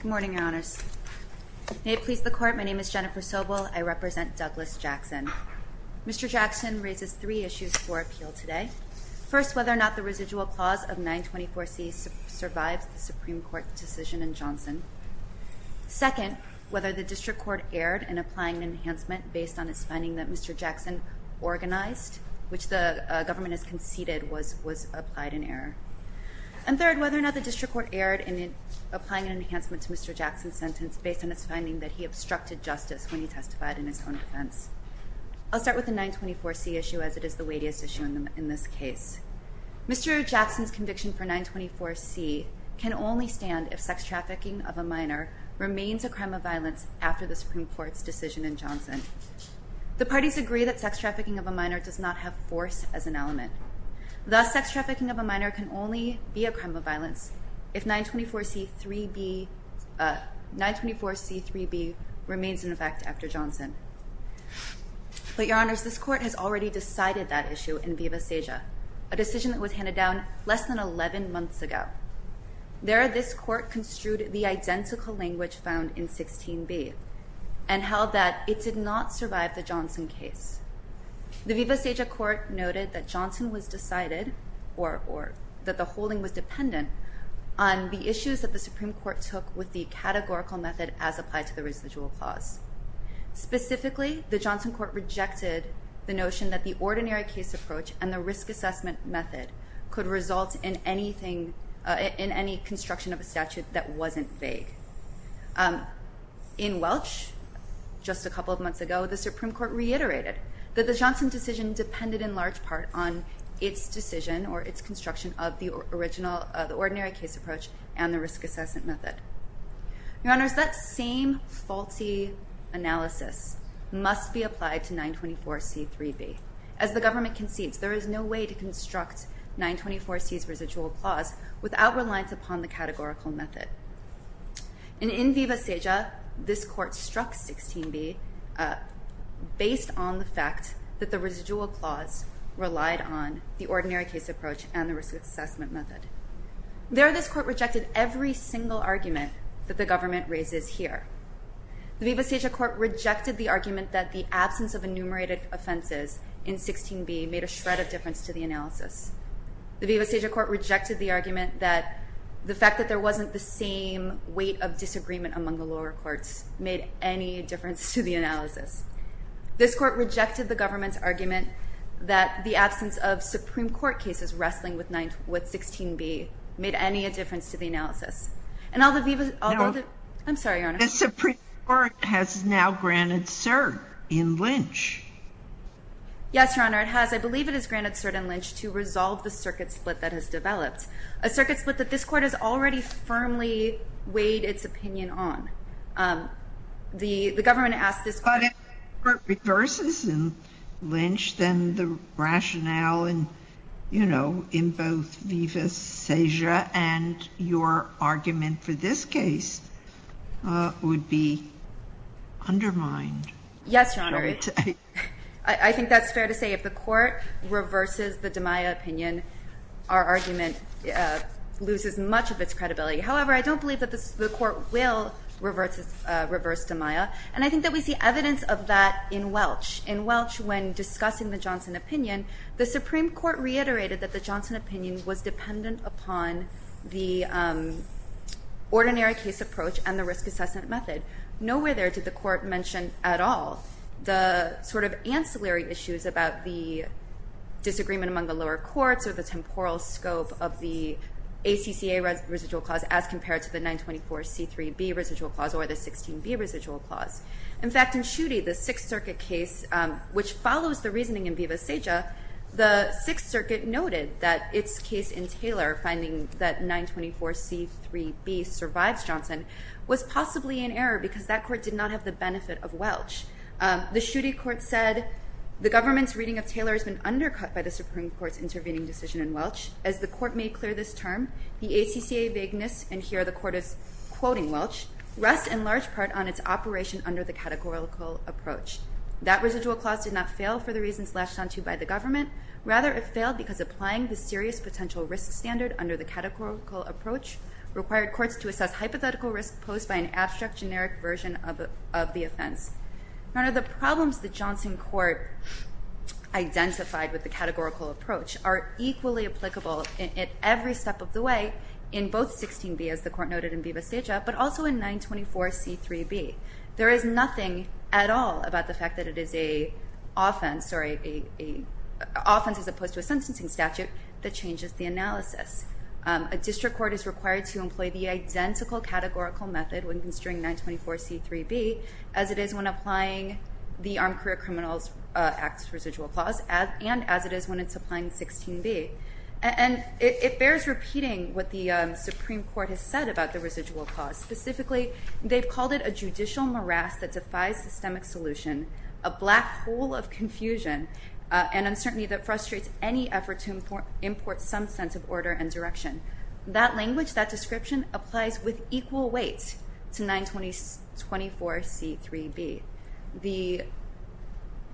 Good morning, Your Honors. May it please the Court, my name is Jennifer Sobel, I represent Douglas Jackson. Mr. Jackson raises three issues for appeal today. First, whether or not the residual clause of 924C survives the Supreme Court decision in Johnson. Second, whether the District Court erred in applying an enhancement based on its finding that Mr. Jackson organized, which the government has conceded was applied in error. And third, whether or not the District Court erred in applying an enhancement to Mr. Jackson's sentence based on its finding that he obstructed justice when he testified in his own defense. I'll start with the 924C issue as it is the weightiest issue in this case. Mr. Jackson's conviction for 924C can only stand if sex trafficking of a minor remains a crime of violence after the Supreme Court's decision in Johnson. The parties agree that sex trafficking of a minor does not have force as an element. Thus, sex trafficking of a minor can only be a crime of violence if 924C3B remains in effect after Johnson. But, Your Honors, this Court has already decided that issue in Viva Seja, a decision that was handed down less than 11 months ago. There, this Court construed the identical language found in 16b and held that it did not survive the Johnson case. The Viva Seja Court noted that Johnson was decided or that the holding was dependent on the issues that the Supreme Court took with the categorical method as applied to the residual clause. Specifically, the Johnson Court rejected the notion that the ordinary case approach and the risk assessment method could result in any construction of a statute that wasn't vague. In Welch, just a couple of months ago, the Supreme Court reiterated that the Johnson decision depended in large part on its decision or its construction of the ordinary case approach and the risk assessment method. Your Honors, that same faulty analysis must be applied to 924C3B. As the government concedes, there is no way to construct 924C's residual clause without reliance upon the categorical method. And in Viva Seja, this Court struck 16b based on the fact that the residual clause relied on the ordinary case approach and the risk assessment method. There, this Court rejected every single argument that the government raises here. The Viva Seja Court rejected the argument that the absence of enumerated offenses in 16b made a shred of difference to the analysis. The Viva Seja Court rejected the argument that the fact that there wasn't the same weight of disagreement among the lower courts made any difference to the analysis. This Court rejected the government's argument that the absence of Supreme Court cases wrestling with 16b made any difference to the analysis. And all the Viva Seja... No. I'm sorry, Your Honor. The Supreme Court has now granted cert in Lynch. Yes, Your Honor, it has. I believe it has granted cert in Lynch to resolve the circuit split that has developed, a circuit split that this Court has already firmly weighed its opinion on. The government asked this Court... But if it reverses in Lynch, then the rationale in, you know, in both Viva Seja and your argument for this case would be undermined. Yes, Your Honor. I think that's fair to say. If the Court reverses the DiMaia opinion, our argument loses much of its credibility. However, I don't believe that the Court will reverse DiMaia, and I think that we see evidence of that in Welch. In Welch, when discussing the Johnson opinion, the Supreme Court reiterated that the Johnson opinion was dependent upon the ordinary case approach and the risk-assessment method. Nowhere there did the Court mention at all the sort of ancillary issues about the disagreement among the lower courts or the temporal scope of the ACCA residual clause as compared to the 924C3B residual clause or the 16B residual clause. In fact, in Schuette, the Sixth Circuit case, which follows the reasoning in Viva Seja, the Sixth Circuit noted that its case in Taylor, finding that 924C3B survives Johnson, was possibly in error because that Court did not have the benefit of Welch. The Schuette Court said the government's reading of Taylor has been undercut by the Supreme Court's intervening decision in Welch. As the Court made clear this term, the ACCA vagueness, and here the Court is quoting Welch, rests in large part on its operation under the categorical approach. That residual clause did not fail for the reasons latched onto by the government. Rather, it failed because applying the serious potential risk standard under the hypothetical risk posed by an abstract generic version of the offense. None of the problems the Johnson Court identified with the categorical approach are equally applicable at every step of the way in both 16B, as the Court noted in Viva Seja, but also in 924C3B. There is nothing at all about the fact that it is an offense as opposed to a sentencing statute that changes the analysis. A district court is required to employ the identical categorical method when considering 924C3B as it is when applying the Armed Career Criminals Act residual clause and as it is when it's applying 16B. And it bears repeating what the Supreme Court has said about the residual clause. Specifically, they've called it a judicial morass that defies systemic solution, a black hole of confusion, and uncertainty that frustrates any effort to import some sense of order and direction. That language, that description, applies with equal weight to 924C3B. The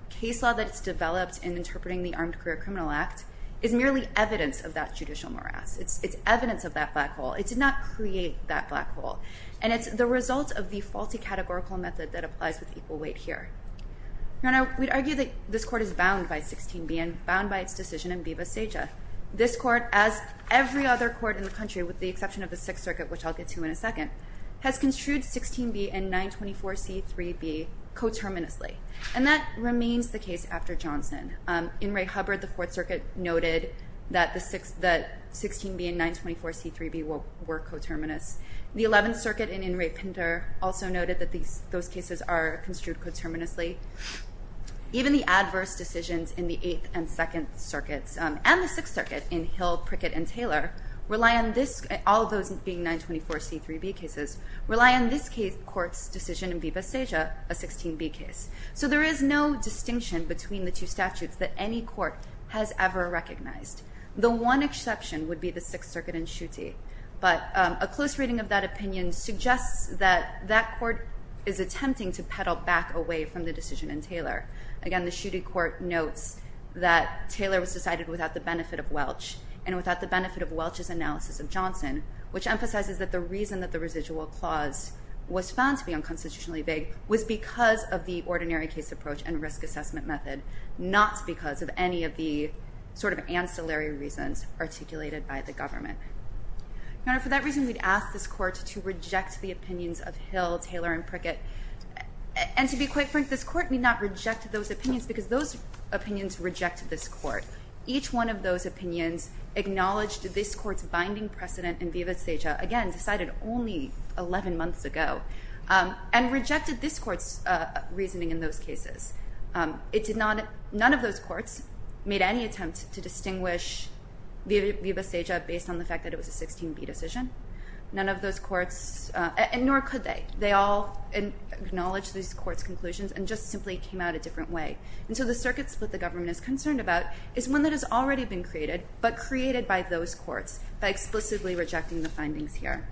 case law that's developed in interpreting the Armed Career Criminals Act is merely evidence of that judicial morass. It's evidence of that black hole. It did not create that black hole. And it's the result of the faulty categorical method that applies with equal weight here. Now, we'd argue that this Court is bound by 16B and bound by its decision in Viva Seja. This Court, as every other court in the country with the exception of the Sixth Circuit, which I'll get to in a second, has construed 16B and 924C3B coterminously. And that remains the case after Johnson. In re Hubbard, the Fourth Circuit noted that 16B and 924C3B were coterminous. The Eleventh Circuit in In re Pinter also noted that those cases are construed coterminously. Even the adverse decisions in the Eighth and Second Circuits and the Sixth Circuit in Hill, Prickett, and Taylor rely on this, all of those being 924C3B cases, rely on this court's decision in Viva Seja, a 16B case. So there is no distinction between the two statutes that any court has ever recognized. The one exception would be the Sixth Circuit in Schutte. But a close reading of that opinion suggests that that court is attempting to peddle back away from the decision in Taylor. Again, the Schutte court notes that Taylor was decided without the benefit of Welch and without the benefit of Welch's analysis of Johnson, which emphasizes that the reason that the residual clause was found to be unconstitutionally vague was because of the ordinary case approach and risk assessment method, not because of any of the sort of ancillary reasons articulated by the government. Now, for that reason, we'd ask this court to reject the opinions of Hill, Taylor, and Prickett. And to be quite frank, this court need not reject those opinions because those opinions reject this court. Each one of those opinions acknowledged this court's binding precedent in Viva Seja, again, decided only 11 months ago, and rejected this court's reasoning in those cases. None of those courts made any attempt to distinguish Viva Seja based on the fact that it was a 16B decision. None of those courts, and nor could they, they all acknowledged this court's conclusions and just simply came out a different way. And so the circuit split the government is concerned about is one that has already been created, but created by those courts by explicitly rejecting the findings here.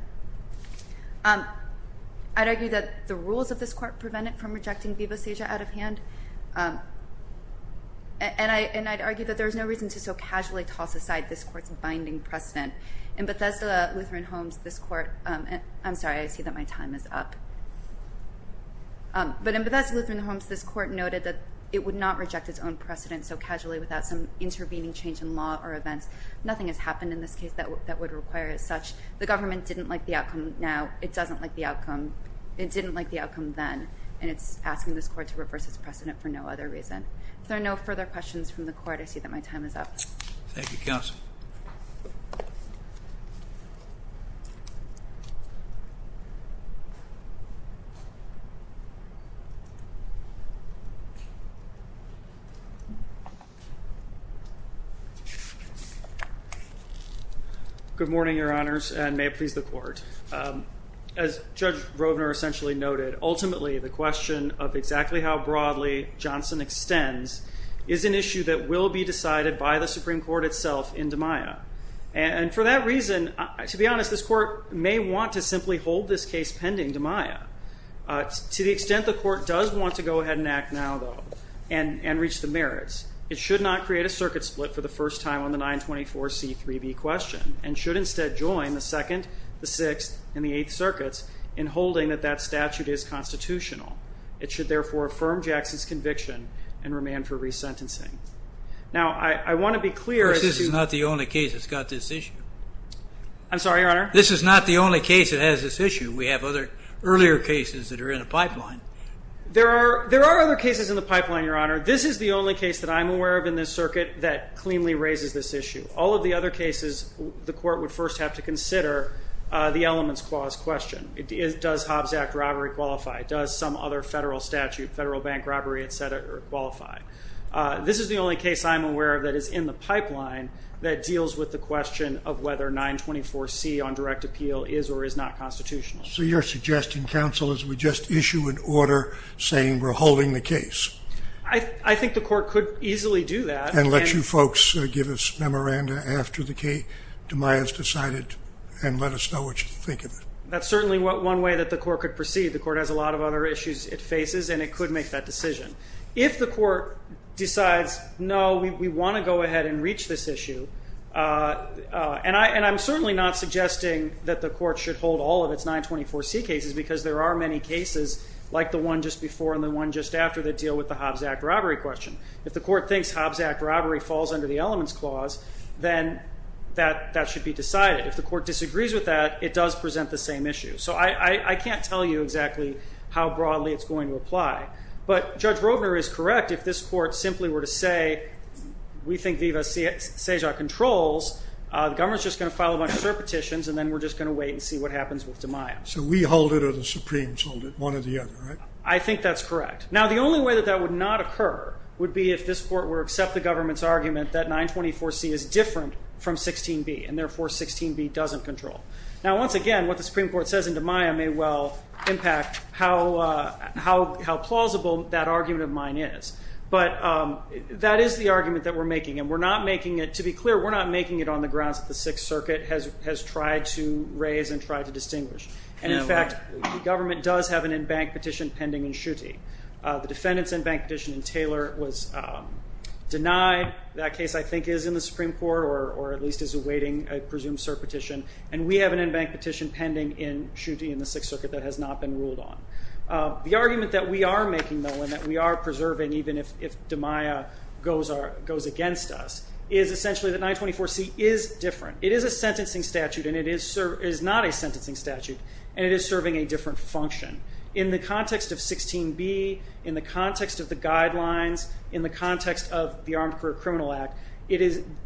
I'd argue that the rules of this court prevent it from rejecting Viva Seja out of hand, and I'd argue that there's no reason to so casually toss aside this court's binding precedent. In Bethesda Lutheran Homes, this court, I'm sorry, I see that my time is up. But in Bethesda Lutheran Homes, this court noted that it would not reject its own precedent so casually without some intervening change in law or events. Nothing has happened in this case that would require it as such. The government didn't like the outcome now. It doesn't like the outcome. It didn't like the outcome then, and it's asking this court to reverse its precedent for no other reason. If there are no further questions from the court, I see that my time is up. Thank you, counsel. Good morning, Your Honors, and may it please the court. As Judge Rovner essentially noted, ultimately the question of exactly how broadly Johnson extends is an issue that will be decided by the Supreme Court itself in DiMaia. And for that reason, to be honest, this court may want to simply hold this case pending DiMaia. To the extent the court does want to go ahead and act now, though, and reach the merits, it should not create a circuit split for the first time on the 924C3B question and should instead join the Second, the Sixth, and the Eighth Circuits in holding that that statute is constitutional. It should, therefore, affirm Jackson's conviction and remand for resentencing. Now, I want to be clear. Of course, this is not the only case that's got this issue. I'm sorry, Your Honor? This is not the only case that has this issue. We have other earlier cases that are in the pipeline. There are other cases in the pipeline, Your Honor. This is the only case that I'm aware of in this circuit that cleanly raises this issue. All of the other cases the court would first have to consider the elements clause question. Does Hobbs Act robbery qualify? Does some other federal statute, federal bank robbery, et cetera, qualify? This is the only case I'm aware of that is in the pipeline that deals with the question of whether 924C on direct appeal is or is not constitutional. So you're suggesting, counsel, as we just issue an order saying we're holding the case? I think the court could easily do that. And let you folks give us memoranda after the case, DeMaias decided, and let us know what you think of it. That's certainly one way that the court could proceed. The court has a lot of other issues it faces, and it could make that decision. If the court decides, no, we want to go ahead and reach this issue, and I'm certainly not suggesting that the court should hold all of its 924C cases because there are many cases like the one just before and the one just after that deal with the Hobbs Act robbery question. If the court thinks Hobbs Act robbery falls under the elements clause, then that should be decided. If the court disagrees with that, it does present the same issue. So I can't tell you exactly how broadly it's going to apply. But Judge Roedner is correct if this court simply were to say, we think Viva Cesar controls, the government is just going to file a bunch of petitions, and then we're just going to wait and see what happens with DeMaias. So we hold it or the Supremes hold it, one or the other, right? I think that's correct. Now, the only way that that would not occur would be if this court were to accept the government's argument that 924C is different from 16B, and therefore 16B doesn't control. Now, once again, what the Supreme Court says in DeMaias may well impact how plausible that argument of mine is. But that is the argument that we're making. And we're not making it, to be clear, we're not making it on the grounds that the Sixth Circuit has tried to raise and tried to distinguish. And, in fact, the government does have an in-bank petition pending in Schutte. The defendant's in-bank petition in Taylor was denied. That case, I think, is in the Supreme Court, or at least is awaiting a presumed cert petition. And we have an in-bank petition pending in Schutte in the Sixth Circuit that has not been ruled on. The argument that we are making, though, and that we are preserving even if DeMaias goes against us, is essentially that 924C is different. It is a sentencing statute, and it is not a sentencing statute, and it is serving a different function. In the context of 16B, in the context of the guidelines, in the context of the Armed Career Criminal Act,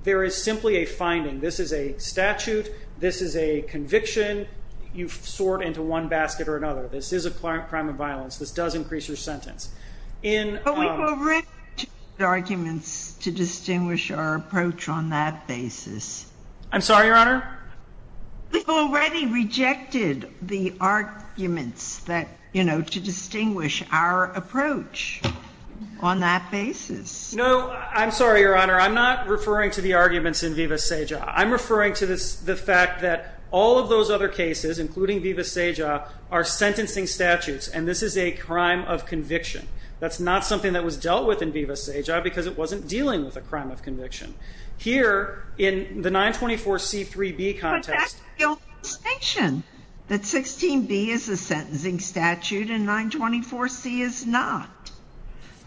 there is simply a finding. This is a statute. This is a conviction. You sort into one basket or another. This is a crime of violence. This does increase your sentence. But we've already used arguments to distinguish our approach on that basis. I'm sorry, Your Honor? We've already rejected the arguments that, you know, to distinguish our approach on that basis. No, I'm sorry, Your Honor. Your Honor, I'm not referring to the arguments in Viva Seja. I'm referring to the fact that all of those other cases, including Viva Seja, are sentencing statutes, and this is a crime of conviction. That's not something that was dealt with in Viva Seja because it wasn't dealing with a crime of conviction. Here, in the 924C3B context ---- But that's the only distinction, that 16B is a sentencing statute and 924C is not.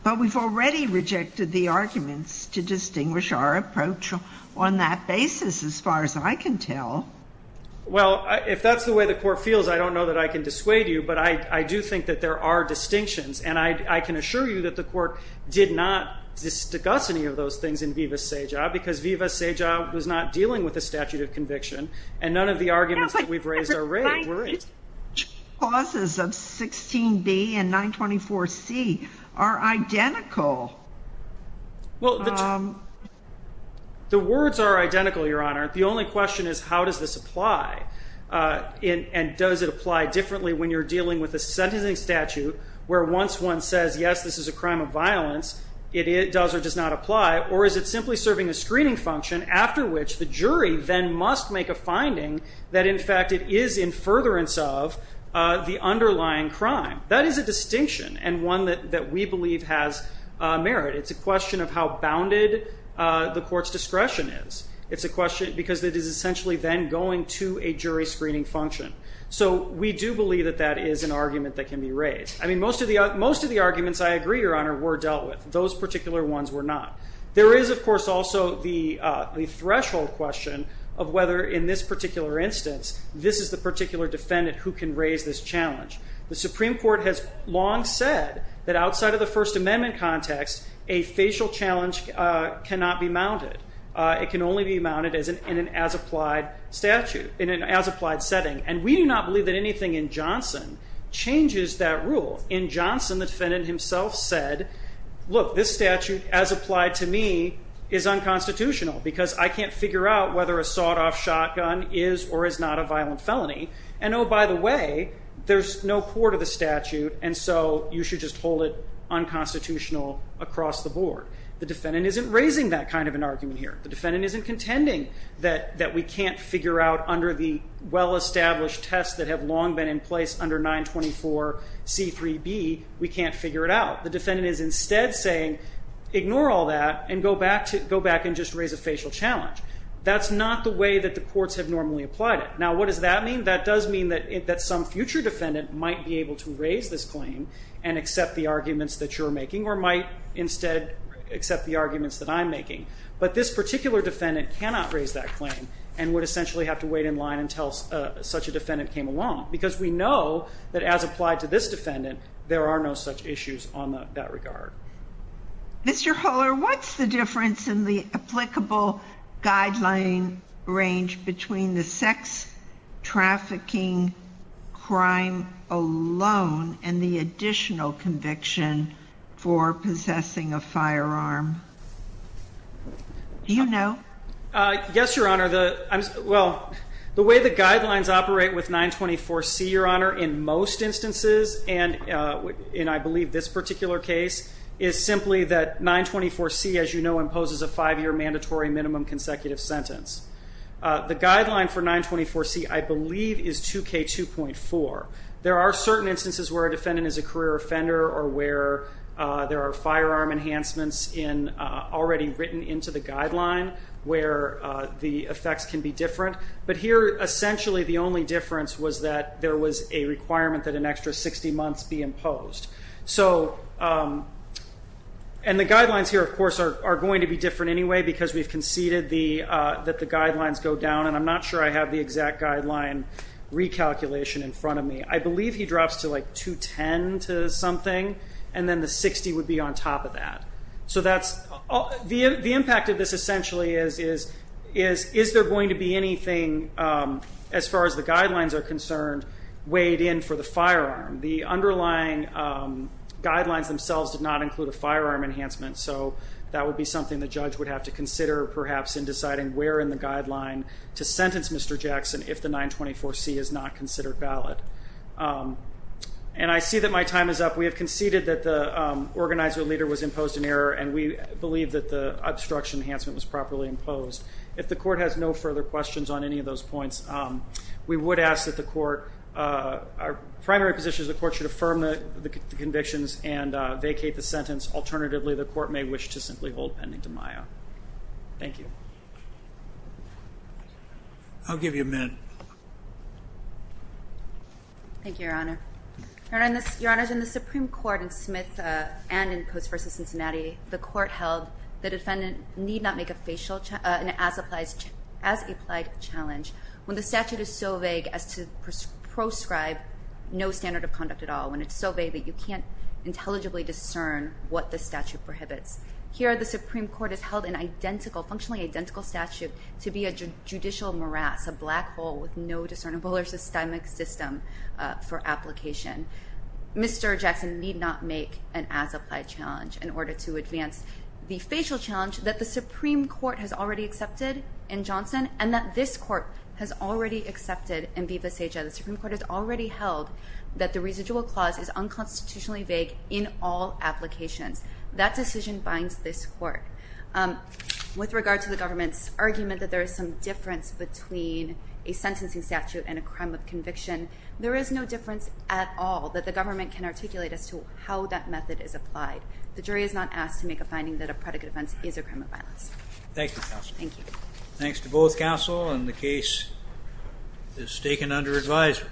But we've already rejected the arguments to distinguish our approach on that basis, as far as I can tell. Well, if that's the way the Court feels, I don't know that I can dissuade you, but I do think that there are distinctions, and I can assure you that the Court did not discuss any of those things in Viva Seja because Viva Seja was not dealing with a statute of conviction, and none of the arguments that we've raised are right. The clauses of 16B and 924C are identical. Well, the words are identical, Your Honor. The only question is how does this apply, and does it apply differently when you're dealing with a sentencing statute where once one says, yes, this is a crime of violence, it does or does not apply, or is it simply serving a screening function after which the jury then must make a finding that, in fact, it is in furtherance of the underlying crime. That is a distinction and one that we believe has merit. It's a question of how bounded the Court's discretion is. It's a question because it is essentially then going to a jury screening function. So we do believe that that is an argument that can be raised. I mean, most of the arguments, I agree, Your Honor, were dealt with. Those particular ones were not. There is, of course, also the threshold question of whether, in this particular instance, this is the particular defendant who can raise this challenge. The Supreme Court has long said that outside of the First Amendment context, a facial challenge cannot be mounted. It can only be mounted in an as-applied statute, in an as-applied setting, and we do not believe that anything in Johnson changes that rule. In Johnson, the defendant himself said, look, this statute, as applied to me, is unconstitutional because I can't figure out whether a sawed-off shotgun is or is not a violent felony. And, oh, by the way, there's no court of the statute, and so you should just hold it unconstitutional across the board. The defendant isn't raising that kind of an argument here. The defendant isn't contending that we can't figure out, under the well-established tests that have long been in place under 924C3B, we can't figure it out. The defendant is instead saying, ignore all that, and go back and just raise a facial challenge. That's not the way that the courts have normally applied it. Now, what does that mean? That does mean that some future defendant might be able to raise this claim and accept the arguments that you're making or might instead accept the arguments that I'm making. But this particular defendant cannot raise that claim and would essentially have to wait in line until such a defendant came along because we know that, as applied to this defendant, there are no such issues on that regard. Mr. Huller, what's the difference in the applicable guideline range between the sex trafficking crime alone and the additional conviction for possessing a firearm? Do you know? Yes, Your Honor. Well, the way the guidelines operate with 924C, Your Honor, in most instances, and I believe this particular case, is simply that 924C, as you know, imposes a five-year mandatory minimum consecutive sentence. The guideline for 924C, I believe, is 2K2.4. There are certain instances where a defendant is a career offender or where there are firearm enhancements already written into the guideline where the effects can be different. But here, essentially, the only difference was that there was a requirement that an extra 60 months be imposed. And the guidelines here, of course, are going to be different anyway because we've conceded that the guidelines go down, and I'm not sure I have the exact guideline recalculation in front of me. I believe he drops to, like, 210 to something, and then the 60 would be on top of that. The impact of this, essentially, is, is there going to be anything, as far as the guidelines are concerned, weighed in for the firearm? The underlying guidelines themselves did not include a firearm enhancement, so that would be something the judge would have to consider, perhaps, in deciding where in the guideline to sentence Mr. Jackson if the 924C is not considered valid. And I see that my time is up. We have conceded that the organizer leader was imposed an error, and we believe that the obstruction enhancement was properly imposed. If the court has no further questions on any of those points, we would ask that the court, our primary position is the court should affirm the convictions and vacate the sentence. Alternatively, the court may wish to simply hold pending demaio. Thank you. I'll give you a minute. Thank you, Your Honor. Your Honor, in the Supreme Court in Smith and in Post v. Cincinnati, the court held the defendant need not make a facial as applied challenge when the statute is so vague as to proscribe no standard of conduct at all, when it's so vague that you can't intelligibly discern what the statute prohibits. Here, the Supreme Court has held an identical, functionally identical statute to be a judicial morass, a black hole with no discernible or systemic system for application. Mr. Jackson need not make an as applied challenge in order to advance the facial challenge that the Supreme Court has already accepted in Johnson and that this court has already accepted in Viva Saja. The Supreme Court has already held that the residual clause is unconstitutionally vague in all applications. That decision binds this court. With regard to the government's argument that there is some difference between a sentencing statute and a crime of conviction, there is no difference at all that the government can articulate as to how that method is applied. The jury is not asked to make a finding that a predicate offense is a crime of violence. Thank you, Counsel. Thank you. Thanks to both counsel, and the case is taken under advisory.